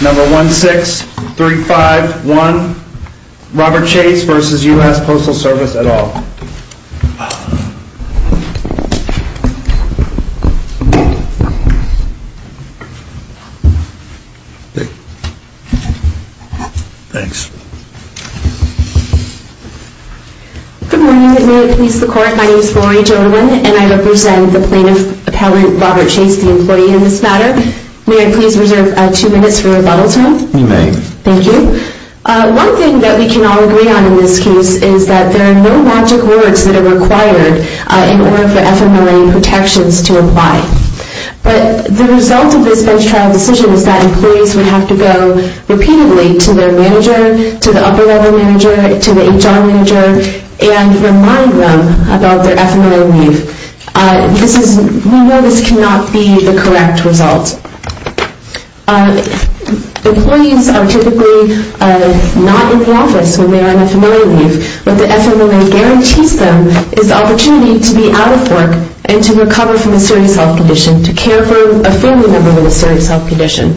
Number 16351, Robert Chase v. U.S. Postal Service et al. Thanks. Good morning. May it please the court, my name is Lori Jodewin and I represent the plaintiff, Robert Chase, the employee in this matter. May I please reserve two minutes for rebuttal, sir? You may. Thank you. One thing that we can all agree on in this case is that there are no logic words that are required in order for FMLA protections to apply. But the result of this bench trial decision is that employees would have to go repeatedly to their manager, to the upper level manager, to the HR manager, and remind them about their FMLA leave. We know this cannot be the correct result. Employees are typically not in the office when they are on FMLA leave. What the FMLA guarantees them is the opportunity to be out of work and to recover from a serious health condition, to care for a family member with a serious health condition,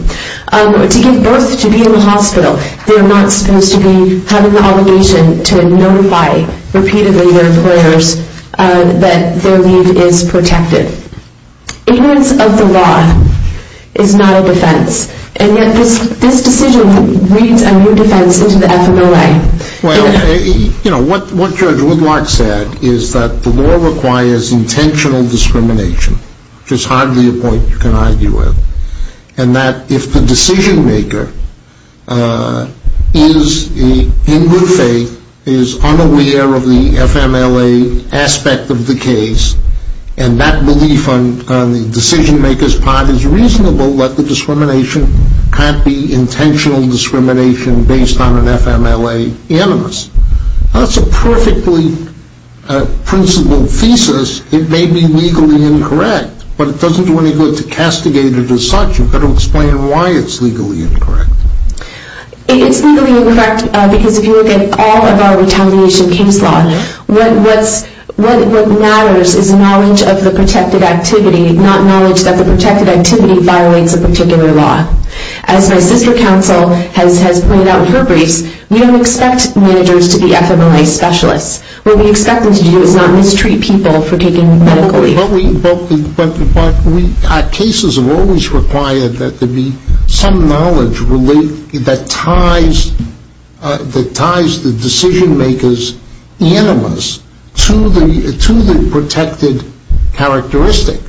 to give birth, to be in the hospital. They are not supposed to be having the obligation to notify repeatedly their employers that their leave is protected. Ignorance of the law is not a defense. And yet this decision reads a new defense into the FMLA. Well, you know, what Judge Woodlock said is that the law requires intentional discrimination, which is hardly a point you can argue with. And that if the decision maker is in good faith, is unaware of the FMLA aspect of the case, and that belief on the decision maker's part is reasonable, that the discrimination can't be intentional discrimination based on an FMLA animus. That's a perfectly principled thesis. It may be legally incorrect, but it doesn't do any good to castigate it as such. You've got to explain why it's legally incorrect. It's legally incorrect because if you look at all of our retaliation case law, what matters is knowledge of the protected activity, not knowledge that the protected activity violates a particular law. As my sister counsel has pointed out in her briefs, we don't expect managers to be FMLA specialists. What we expect them to do is not mistreat people for taking medical leave. But cases have always required that there be some knowledge that ties the decision maker's animus to the protected characteristic.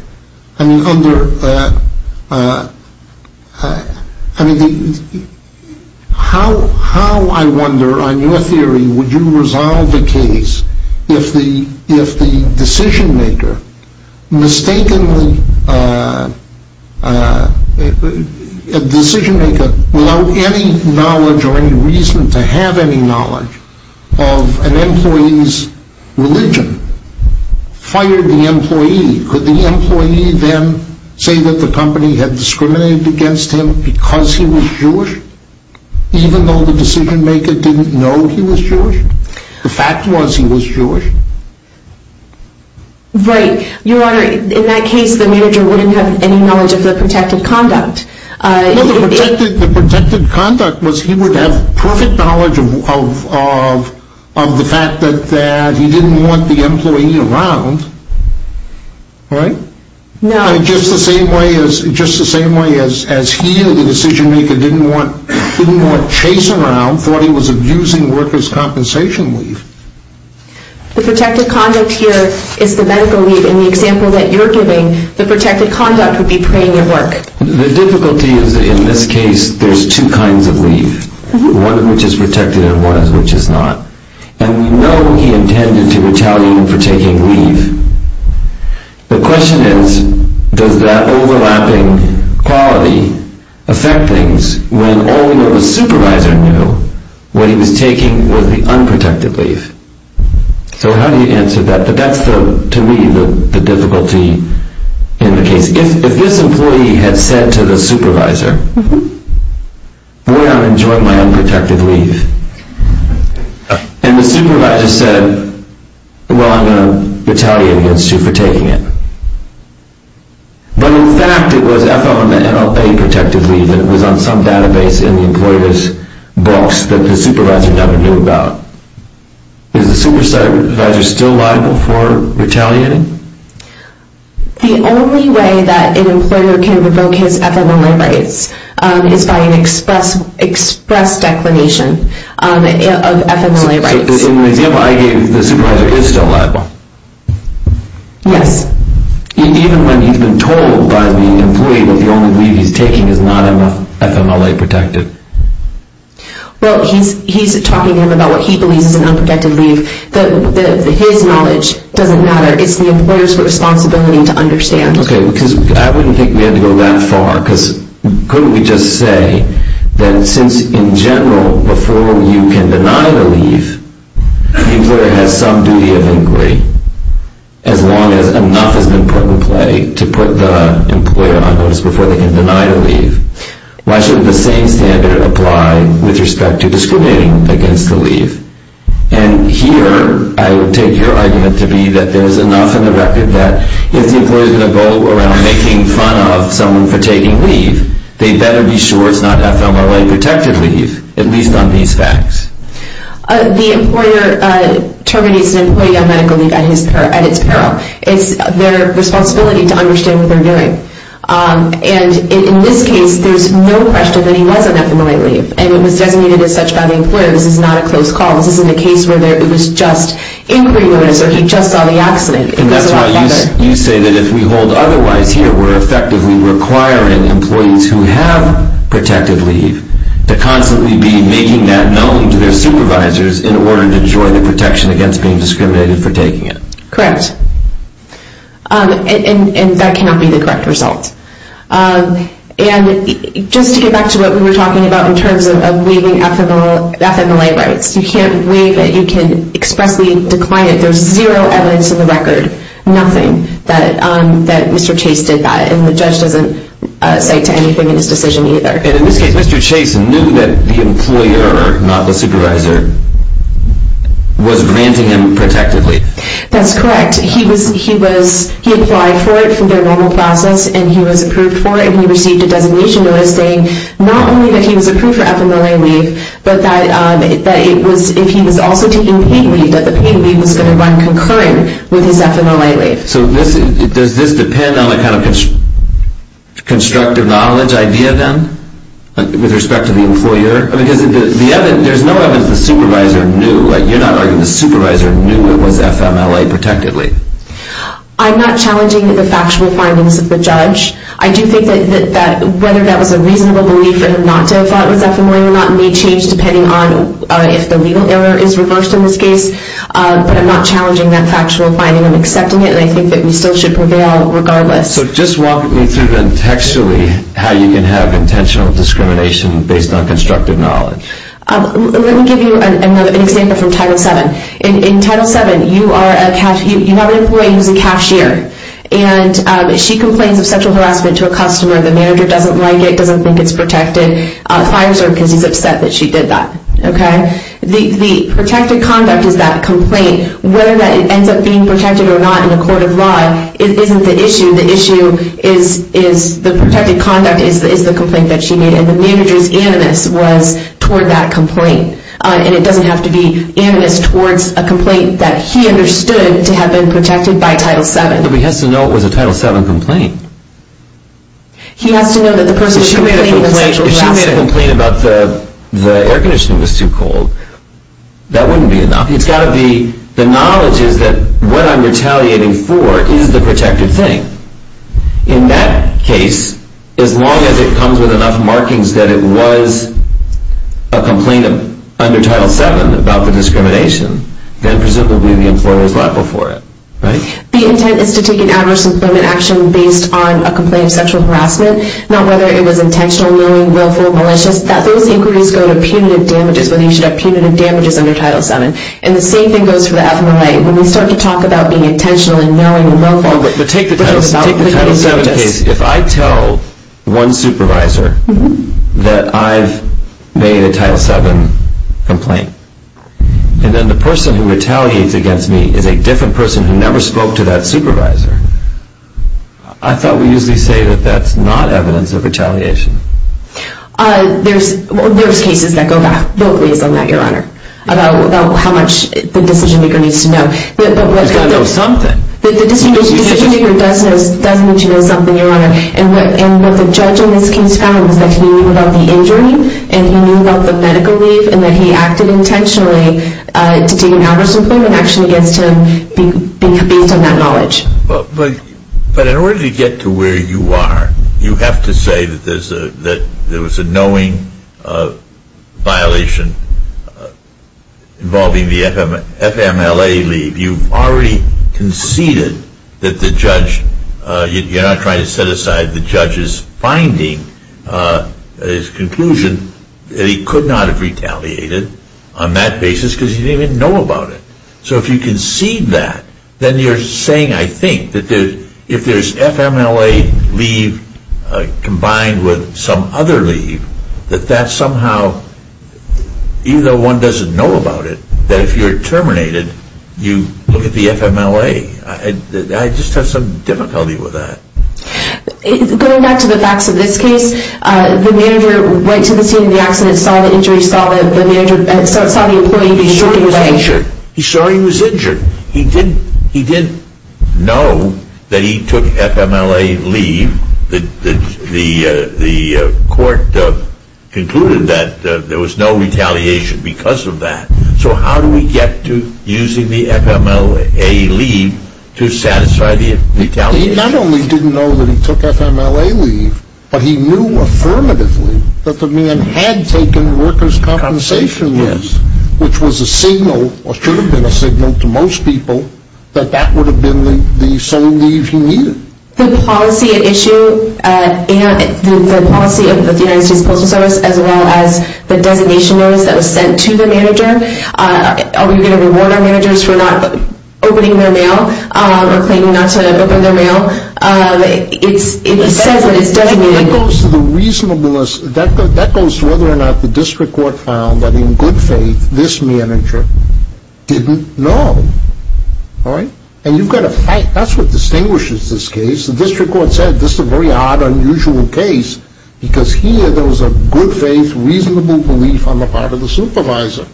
How, I wonder, on your theory, would you resolve the case if the decision maker without any knowledge or any reason to have any knowledge of an employee's religion fired the employee? Could the employee then say that the company had discriminated against him because he was Jewish, even though the decision maker didn't know he was Jewish? The fact was he was Jewish. Right. Your Honor, in that case the manager wouldn't have any knowledge of the protected conduct. The protected conduct was he would have perfect knowledge of the fact that he didn't want the employee around, right? No. Just the same way as he, the decision maker, didn't want Chase around, thought he was abusing workers' compensation leave. The protected conduct here is the medical leave. In the example that you're giving, the protected conduct would be preying on work. The difficulty is in this case there's two kinds of leave, one of which is protected and one of which is not. And we know he intended to retaliate for taking leave. The question is, does that overlapping quality affect things when all we know the supervisor knew when he was taking was the unprotected leave? So how do you answer that? But that's to me the difficulty in the case. If this employee had said to the supervisor, boy, I'm enjoying my unprotected leave. And the supervisor said, well, I'm going to retaliate against you for taking it. But in fact it was FLMA protected leave and it was on some database in the employer's books that the supervisor never knew about. Is the supervisor still liable for retaliating? The only way that an employer can revoke his FLMA rights is by an express declination of FLMA rights. So in the example I gave, the supervisor is still liable? Yes. Even when he's been told by the employee that the only leave he's taking is not FLMA protected? Well, he's talking to him about what he believes is an unprotected leave. His knowledge doesn't matter. It's the employer's responsibility to understand. Okay, because I wouldn't think we had to go that far. Because couldn't we just say that since in general before you can deny the leave, the employer has some duty of inquiry, as long as enough has been put in play to put the employer on notice before they can deny the leave. Why shouldn't the same standard apply with respect to discriminating against the leave? And here I would take your argument to be that there's enough in the record that if the employer is going to go around making fun of someone for taking leave, they better be sure it's not FLMA protected leave, at least on these facts. The employer terminates an employee on medical leave at its peril. It's their responsibility to understand what they're doing. And in this case, there's no question that he was on FLMA leave, and it was designated as such by the employer. This is not a close call. This isn't a case where it was just inquiry notice or he just saw the accident. And that's why you say that if we hold otherwise here, we're effectively requiring employees who have protected leave to constantly be making that known to their supervisors in order to enjoy the protection against being discriminated for taking it. Correct. And that cannot be the correct result. And just to get back to what we were talking about in terms of waiving FLMA rights, you can't waive it. You can expressly decline it. There's zero evidence in the record, nothing, that Mr. Chase did that. And the judge doesn't say to anything in his decision either. And in this case, Mr. Chase knew that the employer, not the supervisor, was granting him protected leave. That's correct. He applied for it from their normal process, and he was approved for it, and he received a designation notice saying not only that he was approved for FLMA leave, but that if he was also taking paid leave, that the paid leave was going to run concurrent with his FLMA leave. So does this depend on a kind of constructive knowledge idea, then, with respect to the employer? Because there's no evidence the supervisor knew. I'm not challenging the factual findings of the judge. I do think that whether that was a reasonable belief or not to have thought it was FLMA or not may change depending on if the legal error is reversed in this case. But I'm not challenging that factual finding. I'm accepting it, and I think that we still should prevail regardless. So just walk me through, then, textually, how you can have intentional discrimination based on constructive knowledge. Let me give you an example from Title VII. In Title VII, you have an employee who's a cashier, and she complains of sexual harassment to a customer. The manager doesn't like it, doesn't think it's protected, fires her because he's upset that she did that. The protected conduct is that complaint. Whether that ends up being protected or not in a court of law isn't the issue. The issue is the protected conduct is the complaint that she made, and the manager's animus was toward that complaint. And it doesn't have to be animus towards a complaint that he understood to have been protected by Title VII. But he has to know it was a Title VII complaint. He has to know that the person was complaining of sexual harassment. If she made a complaint about the air conditioning was too cold, that wouldn't be enough. It's got to be the knowledge is that what I'm retaliating for is the protected thing. In that case, as long as it comes with enough markings that it was a complaint under Title VII about the discrimination, then presumably the employer is liable for it. The intent is to take an adverse employment action based on a complaint of sexual harassment, not whether it was intentional, knowing, willful, malicious. Those inquiries go to punitive damages, whether you should have punitive damages under Title VII. And the same thing goes for the FMLA. When we start to talk about being intentional and knowing and willful, but take the Title VII case. If I tell one supervisor that I've made a Title VII complaint, and then the person who retaliates against me is a different person who never spoke to that supervisor, I thought we usually say that that's not evidence of retaliation. There's cases that go back locally on that, Your Honor, about how much the decision maker needs to know. He's got to know something. The decision maker does need to know something, Your Honor. And what the judge in this case found was that he knew about the injury and he knew about the medical leave and that he acted intentionally to take an adverse employment action against him based on that knowledge. But in order to get to where you are, you have to say that there was a knowing violation involving the FMLA leave. If you've already conceded that the judge, you're not trying to set aside the judge's finding, his conclusion, that he could not have retaliated on that basis because he didn't even know about it. So if you concede that, then you're saying, I think, that if there's FMLA leave combined with some other leave, that that somehow, even though one doesn't know about it, that if you're terminated, you look at the FMLA. I just have some difficulty with that. Going back to the facts of this case, the manager went to the scene of the accident, saw the injury, saw the employee being taken away. He saw he was injured. He didn't know that he took FMLA leave. The court concluded that there was no retaliation because of that. So how do we get to using the FMLA leave to satisfy the retaliation? He not only didn't know that he took FMLA leave, but he knew affirmatively that the man had taken workers' compensation leave, which was a signal or should have been a signal to most people that that would have been the sole leave he needed. The policy at issue, the policy of the United States Postal Service as well as the designation notice that was sent to the manager, are we going to reward our managers for not opening their mail or claiming not to open their mail? It says that it's designated. That goes to the reasonableness. That goes to whether or not the district court found that, in good faith, this manager didn't know. And you've got to fight. That's what distinguishes this case. The district court said this is a very odd, unusual case because here there was a good faith, reasonable belief on the part of the supervisor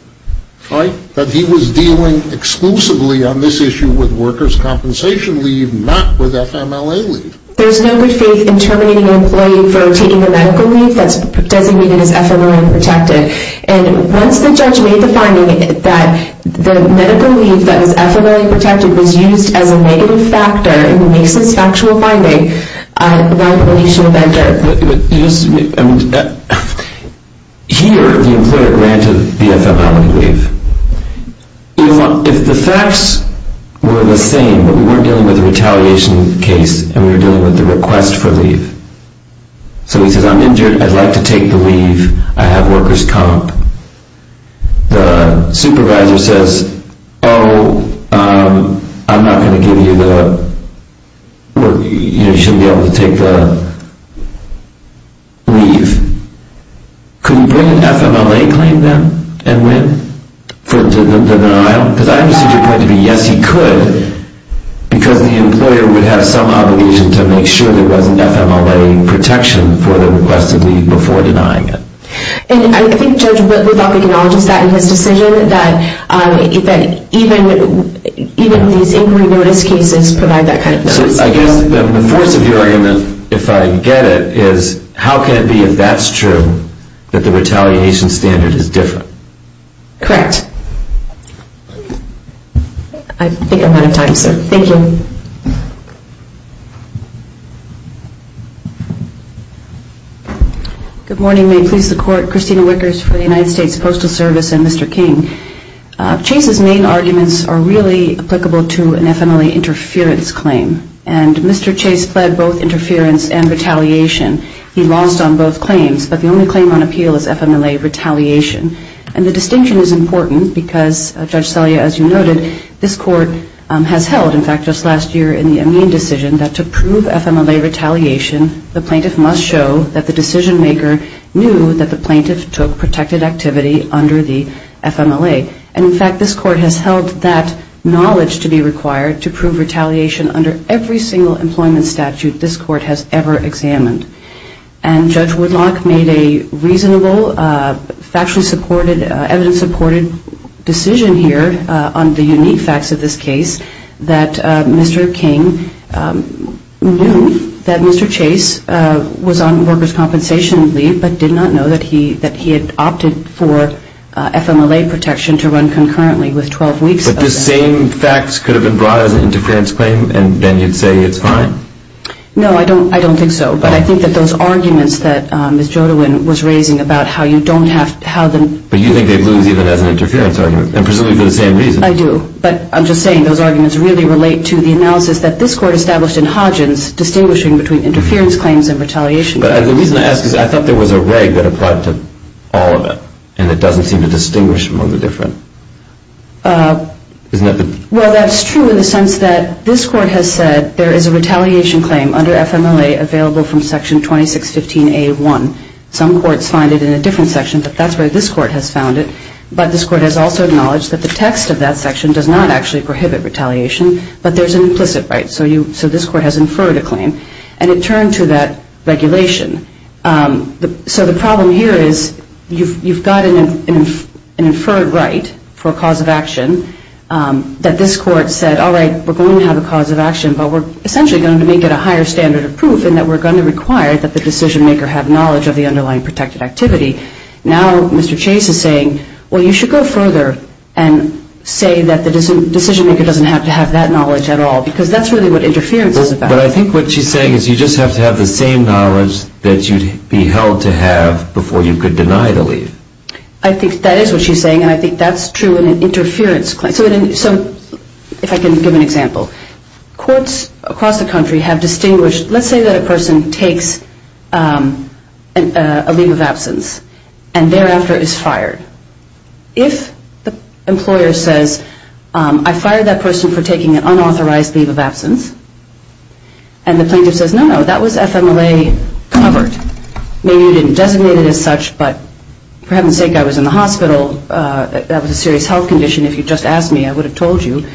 that he was dealing exclusively on this issue with workers' compensation leave, not with FMLA leave. There's no good faith in terminating an employee for taking a medical leave that's designated as FMLA protected. And once the judge made the finding that the medical leave that was FMLA protected was used as a negative factor in Mason's factual finding, the liability should have entered. Here, the employer granted the FMLA leave. If the facts were the same, but we weren't dealing with a retaliation case and we were dealing with the request for leave, so he says, I'm injured, I'd like to take the leave, I have workers' comp, the supervisor says, oh, I'm not going to give you the work, you shouldn't be able to take the leave. Could he bring an FMLA claim then and win for the denial? Because I understand your point to be yes, he could, because the employer would have some obligation to make sure there was an FMLA protection for the request of leave before denying it. And I think Judge Woodcock acknowledges that in his decision, that even these inquiry notice cases provide that kind of notice. So I guess the force of your argument, if I get it, is how can it be if that's true that the retaliation standard is different? Correct. I think I'm out of time, sir. Thank you. Good morning. May it please the Court. Christina Wickers for the United States Postal Service and Mr. King. Chase's main arguments are really applicable to an FMLA interference claim, and Mr. Chase pled both interference and retaliation. He lost on both claims, but the only claim on appeal is FMLA retaliation. And the distinction is important because, Judge Selya, as you noted, this Court has held, in fact, just last week, just last year in the Amin decision, that to prove FMLA retaliation, the plaintiff must show that the decision maker knew that the plaintiff took protected activity under the FMLA. And, in fact, this Court has held that knowledge to be required to prove retaliation under every single employment statute this Court has ever examined. And Judge Woodcock made a reasonable, factually supported, evidence-supported decision here on the unique facts of this case, that Mr. King knew that Mr. Chase was on workers' compensation leave, but did not know that he had opted for FMLA protection to run concurrently with 12 weeks of that. But the same facts could have been brought as an interference claim, and then you'd say it's fine? No, I don't think so. But I think that those arguments that Ms. Jodewin was raising about how you don't have to have them. But you think they lose even as an interference argument, and presumably for the same reason. I do. But I'm just saying those arguments really relate to the analysis that this Court established in Hodgins distinguishing between interference claims and retaliation claims. But the reason I ask is I thought there was a reg that applied to all of it, and it doesn't seem to distinguish among the different. Well, that's true in the sense that this Court has said there is a retaliation claim under FMLA available from Section 2615A1. Some courts find it in a different section, but that's where this Court has found it. But this Court has also acknowledged that the text of that section does not actually prohibit retaliation, but there's an implicit right. So this Court has inferred a claim. And it turned to that regulation. So the problem here is you've got an inferred right for a cause of action that this Court said, all right, we're going to have a cause of action, but we're essentially going to make it a higher standard of proof in that we're going to require that the decision-maker have knowledge of the underlying protected activity. Now Mr. Chase is saying, well, you should go further and say that the decision-maker doesn't have to have that knowledge at all because that's really what interference is about. But I think what she's saying is you just have to have the same knowledge that you'd be held to have before you could deny the leave. I think that is what she's saying, and I think that's true in an interference claim. So if I can give an example. Courts across the country have distinguished. Let's say that a person takes a leave of absence and thereafter is fired. If the employer says, I fired that person for taking an unauthorized leave of absence, and the plaintiff says, no, no, that was FMLA covered. Maybe you didn't designate it as such, but for heaven's sake, I was in the hospital. That was a serious health condition. If you'd just asked me, I would have told you.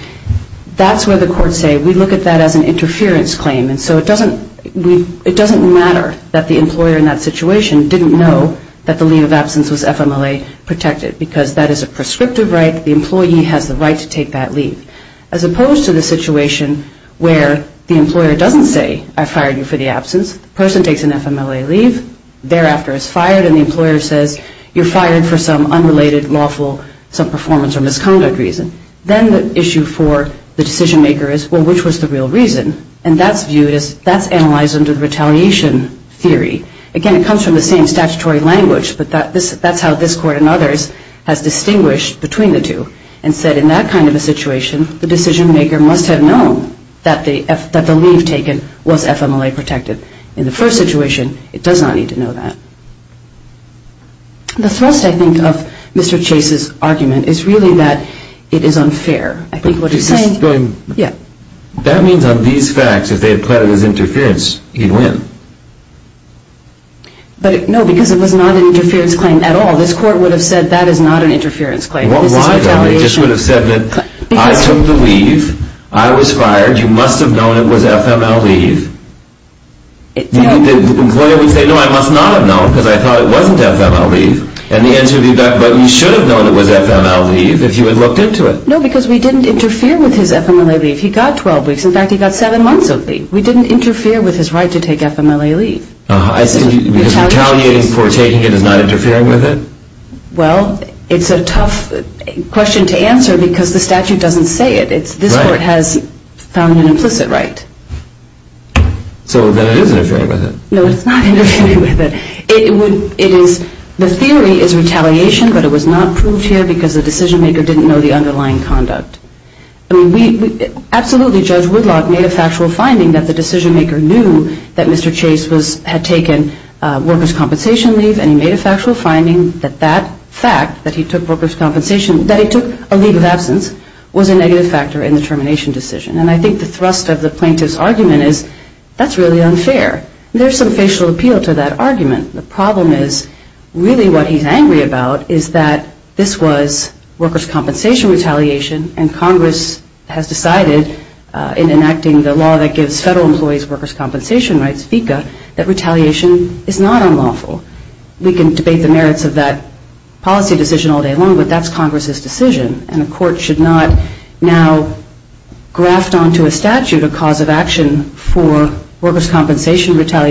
That's where the courts say, we look at that as an interference claim. And so it doesn't matter that the employer in that situation didn't know that the leave of absence was FMLA protected because that is a prescriptive right. The employee has the right to take that leave. As opposed to the situation where the employer doesn't say, I fired you for the absence, the person takes an FMLA leave, thereafter is fired, and the employer says, you're fired for some unrelated, lawful, some performance or misconduct reason. Then the issue for the decision maker is, well, which was the real reason? And that's viewed as, that's analyzed under the retaliation theory. Again, it comes from the same statutory language, but that's how this court and others has distinguished between the two and said, in that kind of a situation, the decision maker must have known that the leave taken was FMLA protected. In the first situation, it does not need to know that. The thrust, I think, of Mr. Chase's argument is really that it is unfair. I think what he's saying... That means on these facts, if they had plotted his interference, he'd win. But, no, because it was not an interference claim at all. This court would have said, that is not an interference claim. This is retaliation. Well, why then? They just would have said that, I took the leave, I was fired, you must have known it was FMLA leave. The employer would say, no, I must not have known because I thought it wasn't FMLA leave. And the answer would be, but you should have known it was FMLA leave if you had looked into it. No, because we didn't interfere with his FMLA leave. He got 12 weeks. In fact, he got seven months of leave. We didn't interfere with his right to take FMLA leave. Because retaliating for taking it is not interfering with it? Well, it's a tough question to answer because the statute doesn't say it. This court has found an implicit right. So then it is interfering with it. No, it's not interfering with it. The theory is retaliation, but it was not proved here because the decision maker didn't know the underlying conduct. Absolutely, Judge Woodlock made a factual finding that the decision maker knew that Mr. Chase had taken workers' compensation leave, and he made a factual finding that that fact, that he took workers' compensation, that he took a leave of absence, was a negative factor in the termination decision. And I think the thrust of the plaintiff's argument is, that's really unfair. There's some facial appeal to that argument. The problem is, really what he's angry about is that this was workers' compensation retaliation, and Congress has decided in enacting the law that gives federal employees workers' compensation rights, FECA, that retaliation is not unlawful. We can debate the merits of that policy decision all day long, but that's Congress's decision. And the court should not now graft onto a statute a cause of action for FMLA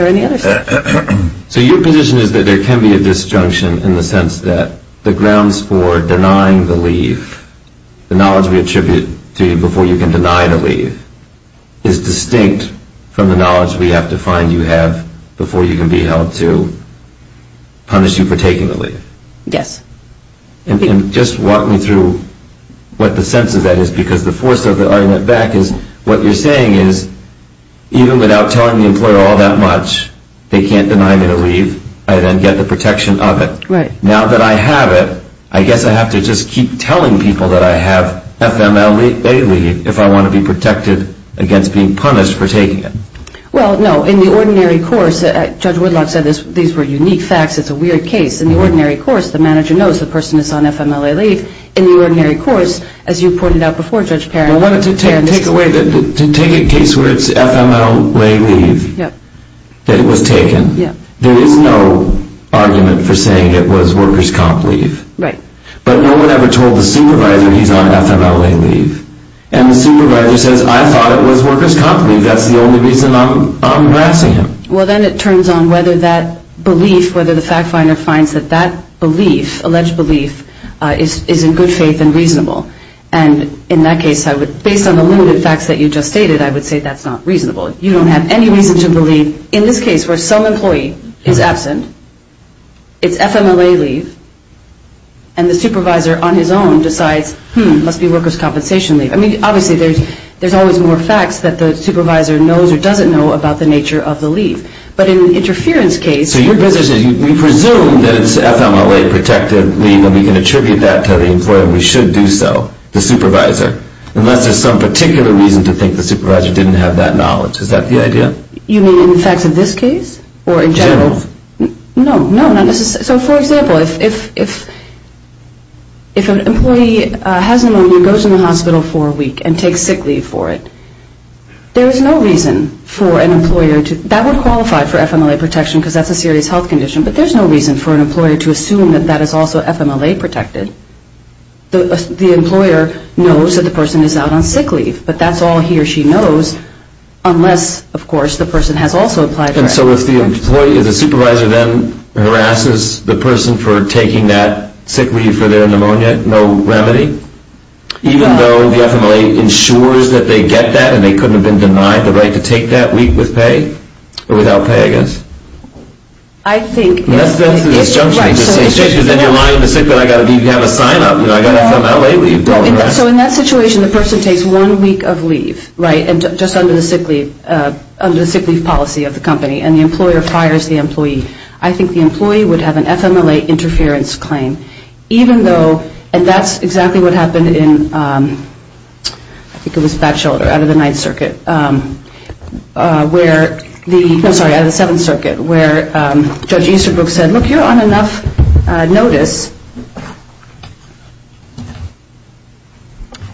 or any other statute. So your position is that there can be a disjunction in the sense that the grounds for denying the leave, the knowledge we attribute to you before you can deny the leave, is distinct from the knowledge we have to find you have before you can be held to punish you for taking the leave. Yes. And just walk me through what the sense of that is, because the force of the they can't deny me the leave, I then get the protection of it. Right. Now that I have it, I guess I have to just keep telling people that I have FMLA leave if I want to be protected against being punished for taking it. Well, no. In the ordinary course, Judge Woodlock said these were unique facts. It's a weird case. In the ordinary course, the manager knows the person is on FMLA leave. In the ordinary course, as you pointed out before, Judge Perrin, to take a case where it's FMLA leave, that it was taken, there is no argument for saying it was workers' comp leave. Right. But no one ever told the supervisor he's on FMLA leave. And the supervisor says, I thought it was workers' comp leave. That's the only reason I'm harassing him. Well, then it turns on whether that belief, whether the fact finder finds that that belief, alleged belief, is in good faith and reasonable. And in that case, I would, based on the limited facts that you just stated, I would say that's not reasonable. You don't have any reason to believe in this case where some employee is absent, it's FMLA leave, and the supervisor on his own decides, hmm, it must be workers' compensation leave. I mean, obviously, there's always more facts that the supervisor knows or doesn't know about the nature of the leave. But in an interference case. So your business is, we presume that it's FMLA protective leave and we can attribute that to the employer and we should do so, the supervisor, unless there's some particular reason to think the supervisor didn't have that knowledge. Is that the idea? You mean in the facts of this case? Or in general? General. No, no, not necessarily. So, for example, if an employee has pneumonia, goes in the hospital for a week and takes sick leave for it, there is no reason for an employer to, that would qualify for FMLA protection because that's a serious health condition, but there's no reason for an employer to assume that that is also FMLA protected. The employer knows that the person is out on sick leave, but that's all he or she knows unless, of course, the person has also applied for FMLA protection. And so if the supervisor then harasses the person for taking that sick leave for their pneumonia, no remedy? Even though the FMLA ensures that they get that and they couldn't have been denied the right to take that week with pay? Or without pay, I guess? I think... Unless there's a disjunction in the situation, then you're lying to the sick that you have a sign-up, you know, I got a FMLA leave. So in that situation, the person takes one week of leave, right, just under the sick leave policy of the company, and the employer fires the employee. I think the employee would have an FMLA interference claim, even though, and that's exactly what happened in, I think it was back shoulder, out of the Ninth Circuit, where the, no, sorry, out of the Seventh Circuit, where Judge Easterbrook said, look, you're on enough notice,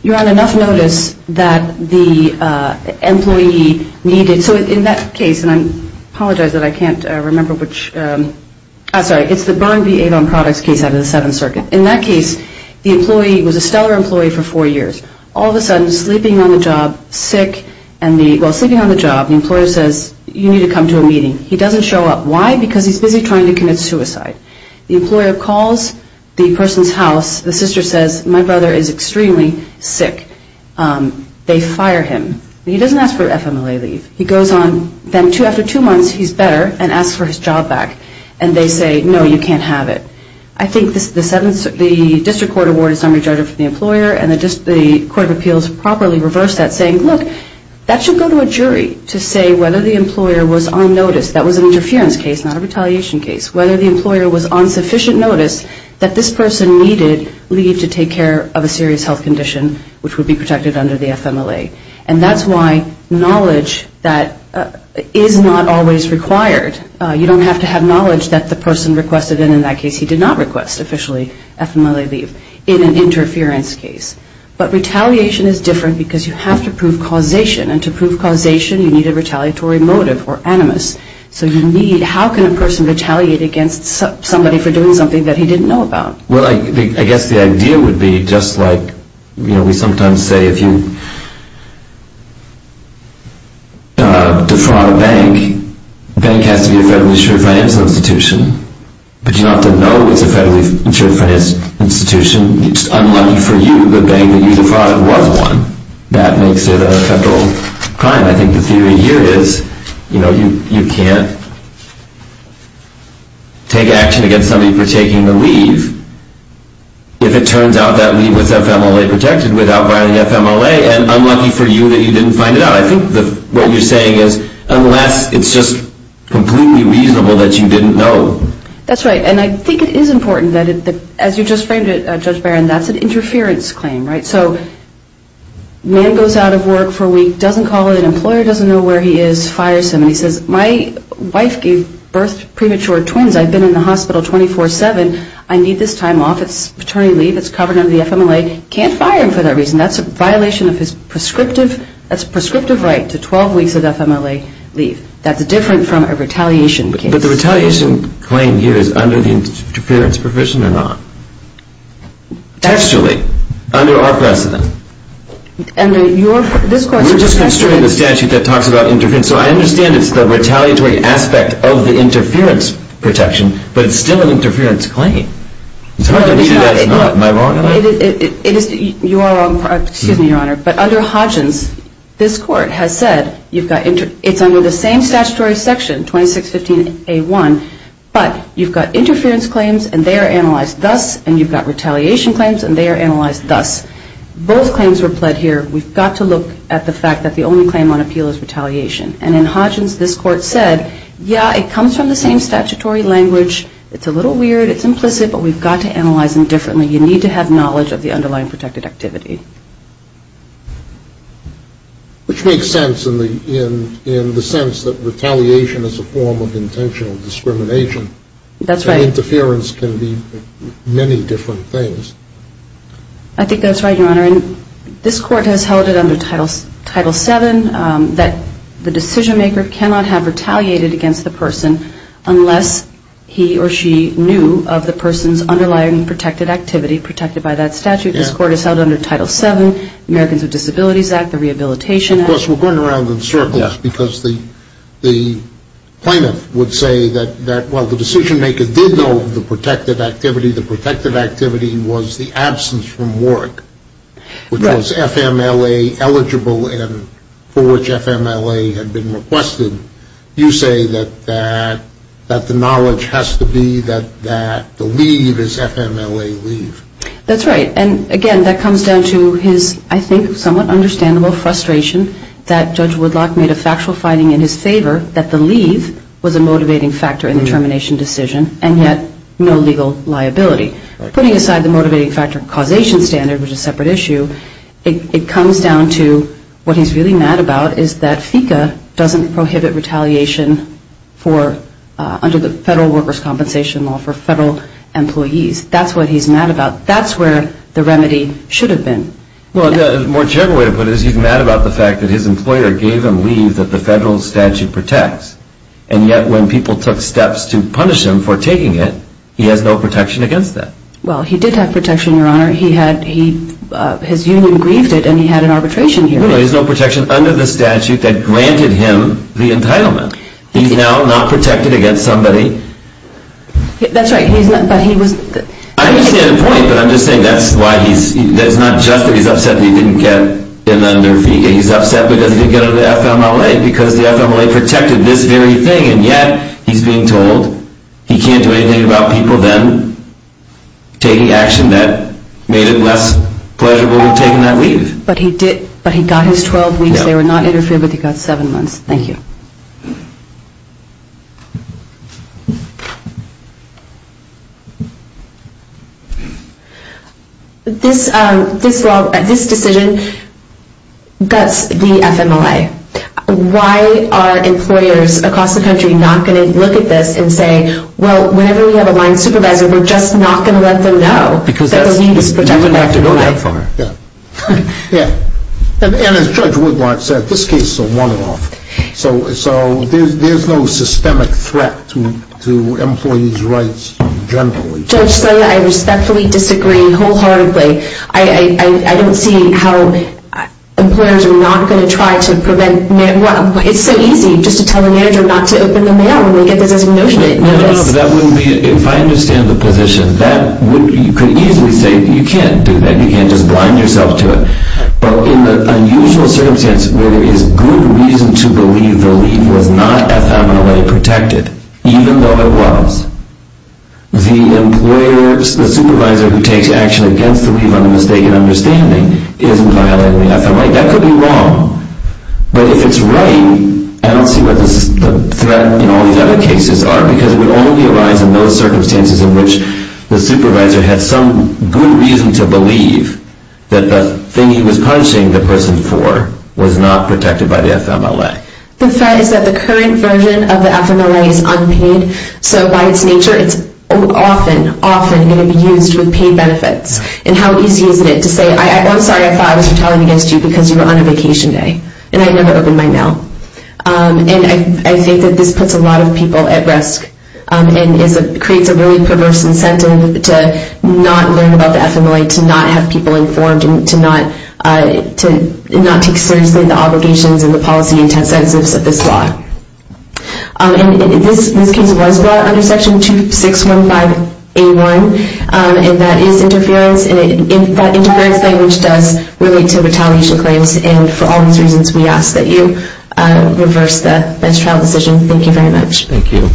you're on enough notice that the employee needed, so in that case, and I apologize that I can't remember which, I'm sorry, it's the Byrne v. Avon Products case out of the Seventh Circuit. In that case, the employee was a stellar employee for four years. All of a sudden, sleeping on the job, sick, and the, well, sleeping on the job, the employer says, you need to come to a meeting. He doesn't show up. Why? Because he's busy trying to commit suicide. The employer calls the person's house. The sister says, my brother is extremely sick. They fire him. He doesn't ask for an FMLA leave. He goes on, then after two months, he's better, and asks for his job back, and they say, no, you can't have it. I think the District Court Award is not recharged for the employer, and the Court of Appeals properly reversed that, saying, look, that should go to a jury to say whether the employer was on notice, that was an interference case, not a retaliation case, whether the employer was on sufficient notice that this person needed leave to take care of a serious health condition, which would be protected under the FMLA. And that's why knowledge that is not always required, you don't have to have knowledge that the person requested, and in that case he did not request officially FMLA leave in an interference case. But retaliation is different because you have to prove causation, and to prove causation you need a retaliatory motive or animus. So you need, how can a person retaliate against somebody for doing something that he didn't know about? Well, I guess the idea would be just like we sometimes say if you defraud a bank, the bank has to be a federally insured financial institution, but you don't have to know it's a federally insured financial institution. It's unlucky for you, the bank that you defrauded was one. That makes it a federal crime. I think the theory here is you can't take action against somebody for taking the leave if it turns out that leave was FMLA protected without violating FMLA, and unlucky for you that you didn't find it out. So I think what you're saying is unless it's just completely reasonable that you didn't know. That's right, and I think it is important that as you just framed it, Judge Barron, that's an interference claim, right? So man goes out of work for a week, doesn't call an employer, doesn't know where he is, fires him, and he says my wife gave birth to premature twins. I've been in the hospital 24-7. I need this time off. It's attorney leave. It's covered under the FMLA. Can't fire him for that reason. That's a violation of his prescriptive right to 12 weeks of FMLA leave. That's different from a retaliation case. But the retaliation claim here is under the interference provision or not? Textually, under our precedent. We're just considering the statute that talks about interference. So I understand it's the retaliatory aspect of the interference protection, Am I wrong on that? You are wrong. Excuse me, Your Honor. But under Hodgins, this court has said it's under the same statutory section, 2615A1, but you've got interference claims, and they are analyzed thus, and you've got retaliation claims, and they are analyzed thus. Both claims were pled here. We've got to look at the fact that the only claim on appeal is retaliation. And in Hodgins, this court said, yeah, it comes from the same statutory language. It's a little weird. It's implicit, but we've got to analyze them differently. You need to have knowledge of the underlying protected activity. Which makes sense in the sense that retaliation is a form of intentional discrimination. That's right. And interference can be many different things. I think that's right, Your Honor. This court has held it under Title VII that the decision-maker cannot have retaliated against the person unless he or she knew of the person's underlying protected activity protected by that statute. This court has held it under Title VII, Americans with Disabilities Act, the Rehabilitation Act. Of course, we're going around in circles because the plaintiff would say that, well, the decision-maker did know of the protected activity. The protected activity was the absence from work, which was FMLA-eligible and for which FMLA had been requested. You say that the knowledge has to be that the leave is FMLA leave. That's right. And, again, that comes down to his, I think, somewhat understandable frustration that Judge Woodlock made a factual finding in his favor that the leave was a motivating factor in the termination decision and yet no legal liability. Putting aside the motivating factor causation standard, which is a separate issue, it comes down to what he's really mad about is that FECA doesn't prohibit retaliation under the Federal Workers' Compensation Law for federal employees. That's what he's mad about. That's where the remedy should have been. Well, a more general way to put it is he's mad about the fact that his employer gave him leave that the federal statute protects, and yet when people took steps to punish him for taking it, he has no protection against that. Well, he did have protection, Your Honor. His union grieved it, and he had an arbitration hearing. No, there's no protection under the statute that granted him the entitlement. He's now not protected against somebody. That's right, but he was... I understand the point, but I'm just saying that's why he's... It's not just that he's upset that he didn't get an under FECA. He's upset because he didn't get an FMLA because the FMLA protected this very thing, and yet he's being told he can't do anything about people then taking action that made it less pleasurable to have taken that leave. But he got his 12 weeks. They were not interfered with. He got seven months. Thank you. This decision guts the FMLA. Why are employers across the country not going to look at this and say, well, whenever we have a line supervisor, we're just not going to let them know that the leave is protected by the FMLA? Yeah. And as Judge Woodward said, this case is a one-off, so there's no systemic threat to employees' rights generally. Judge Slaya, I respectfully disagree wholeheartedly. I don't see how employers are not going to try to prevent... Well, it's so easy just to tell a manager not to open the mail when they get the designation notice. No, no, no, but that wouldn't be... If I understand the position, you could easily say you can't do that. You can't just blind yourself to it. But in the unusual circumstance where there is good reason to believe the leave was not FMLA-protected, even though it was, the supervisor who takes action against the leave on a mistaken understanding isn't violating the FMLA. That could be wrong, but if it's right, I don't see what the threat in all these other cases are because it would only arise in those circumstances in which the supervisor had some good reason to believe that the thing he was punishing the person for was not protected by the FMLA. The fact is that the current version of the FMLA is unpaid, so by its nature, it's often, often going to be used with paid benefits. And how easy is it to say, I'm sorry, I thought I was retaliating against you because you were on a vacation day, and I never opened my mail. And I think that this puts a lot of people at risk and creates a really perverse incentive to not learn about the FMLA, to not have people informed, and to not take seriously the obligations and the policy intensives of this law. And this case was brought under Section 2615A1, and that is interference, and that interference language does relate to retaliation claims, and for all these reasons, we ask that you reverse that trial decision. Thank you very much. Thank you.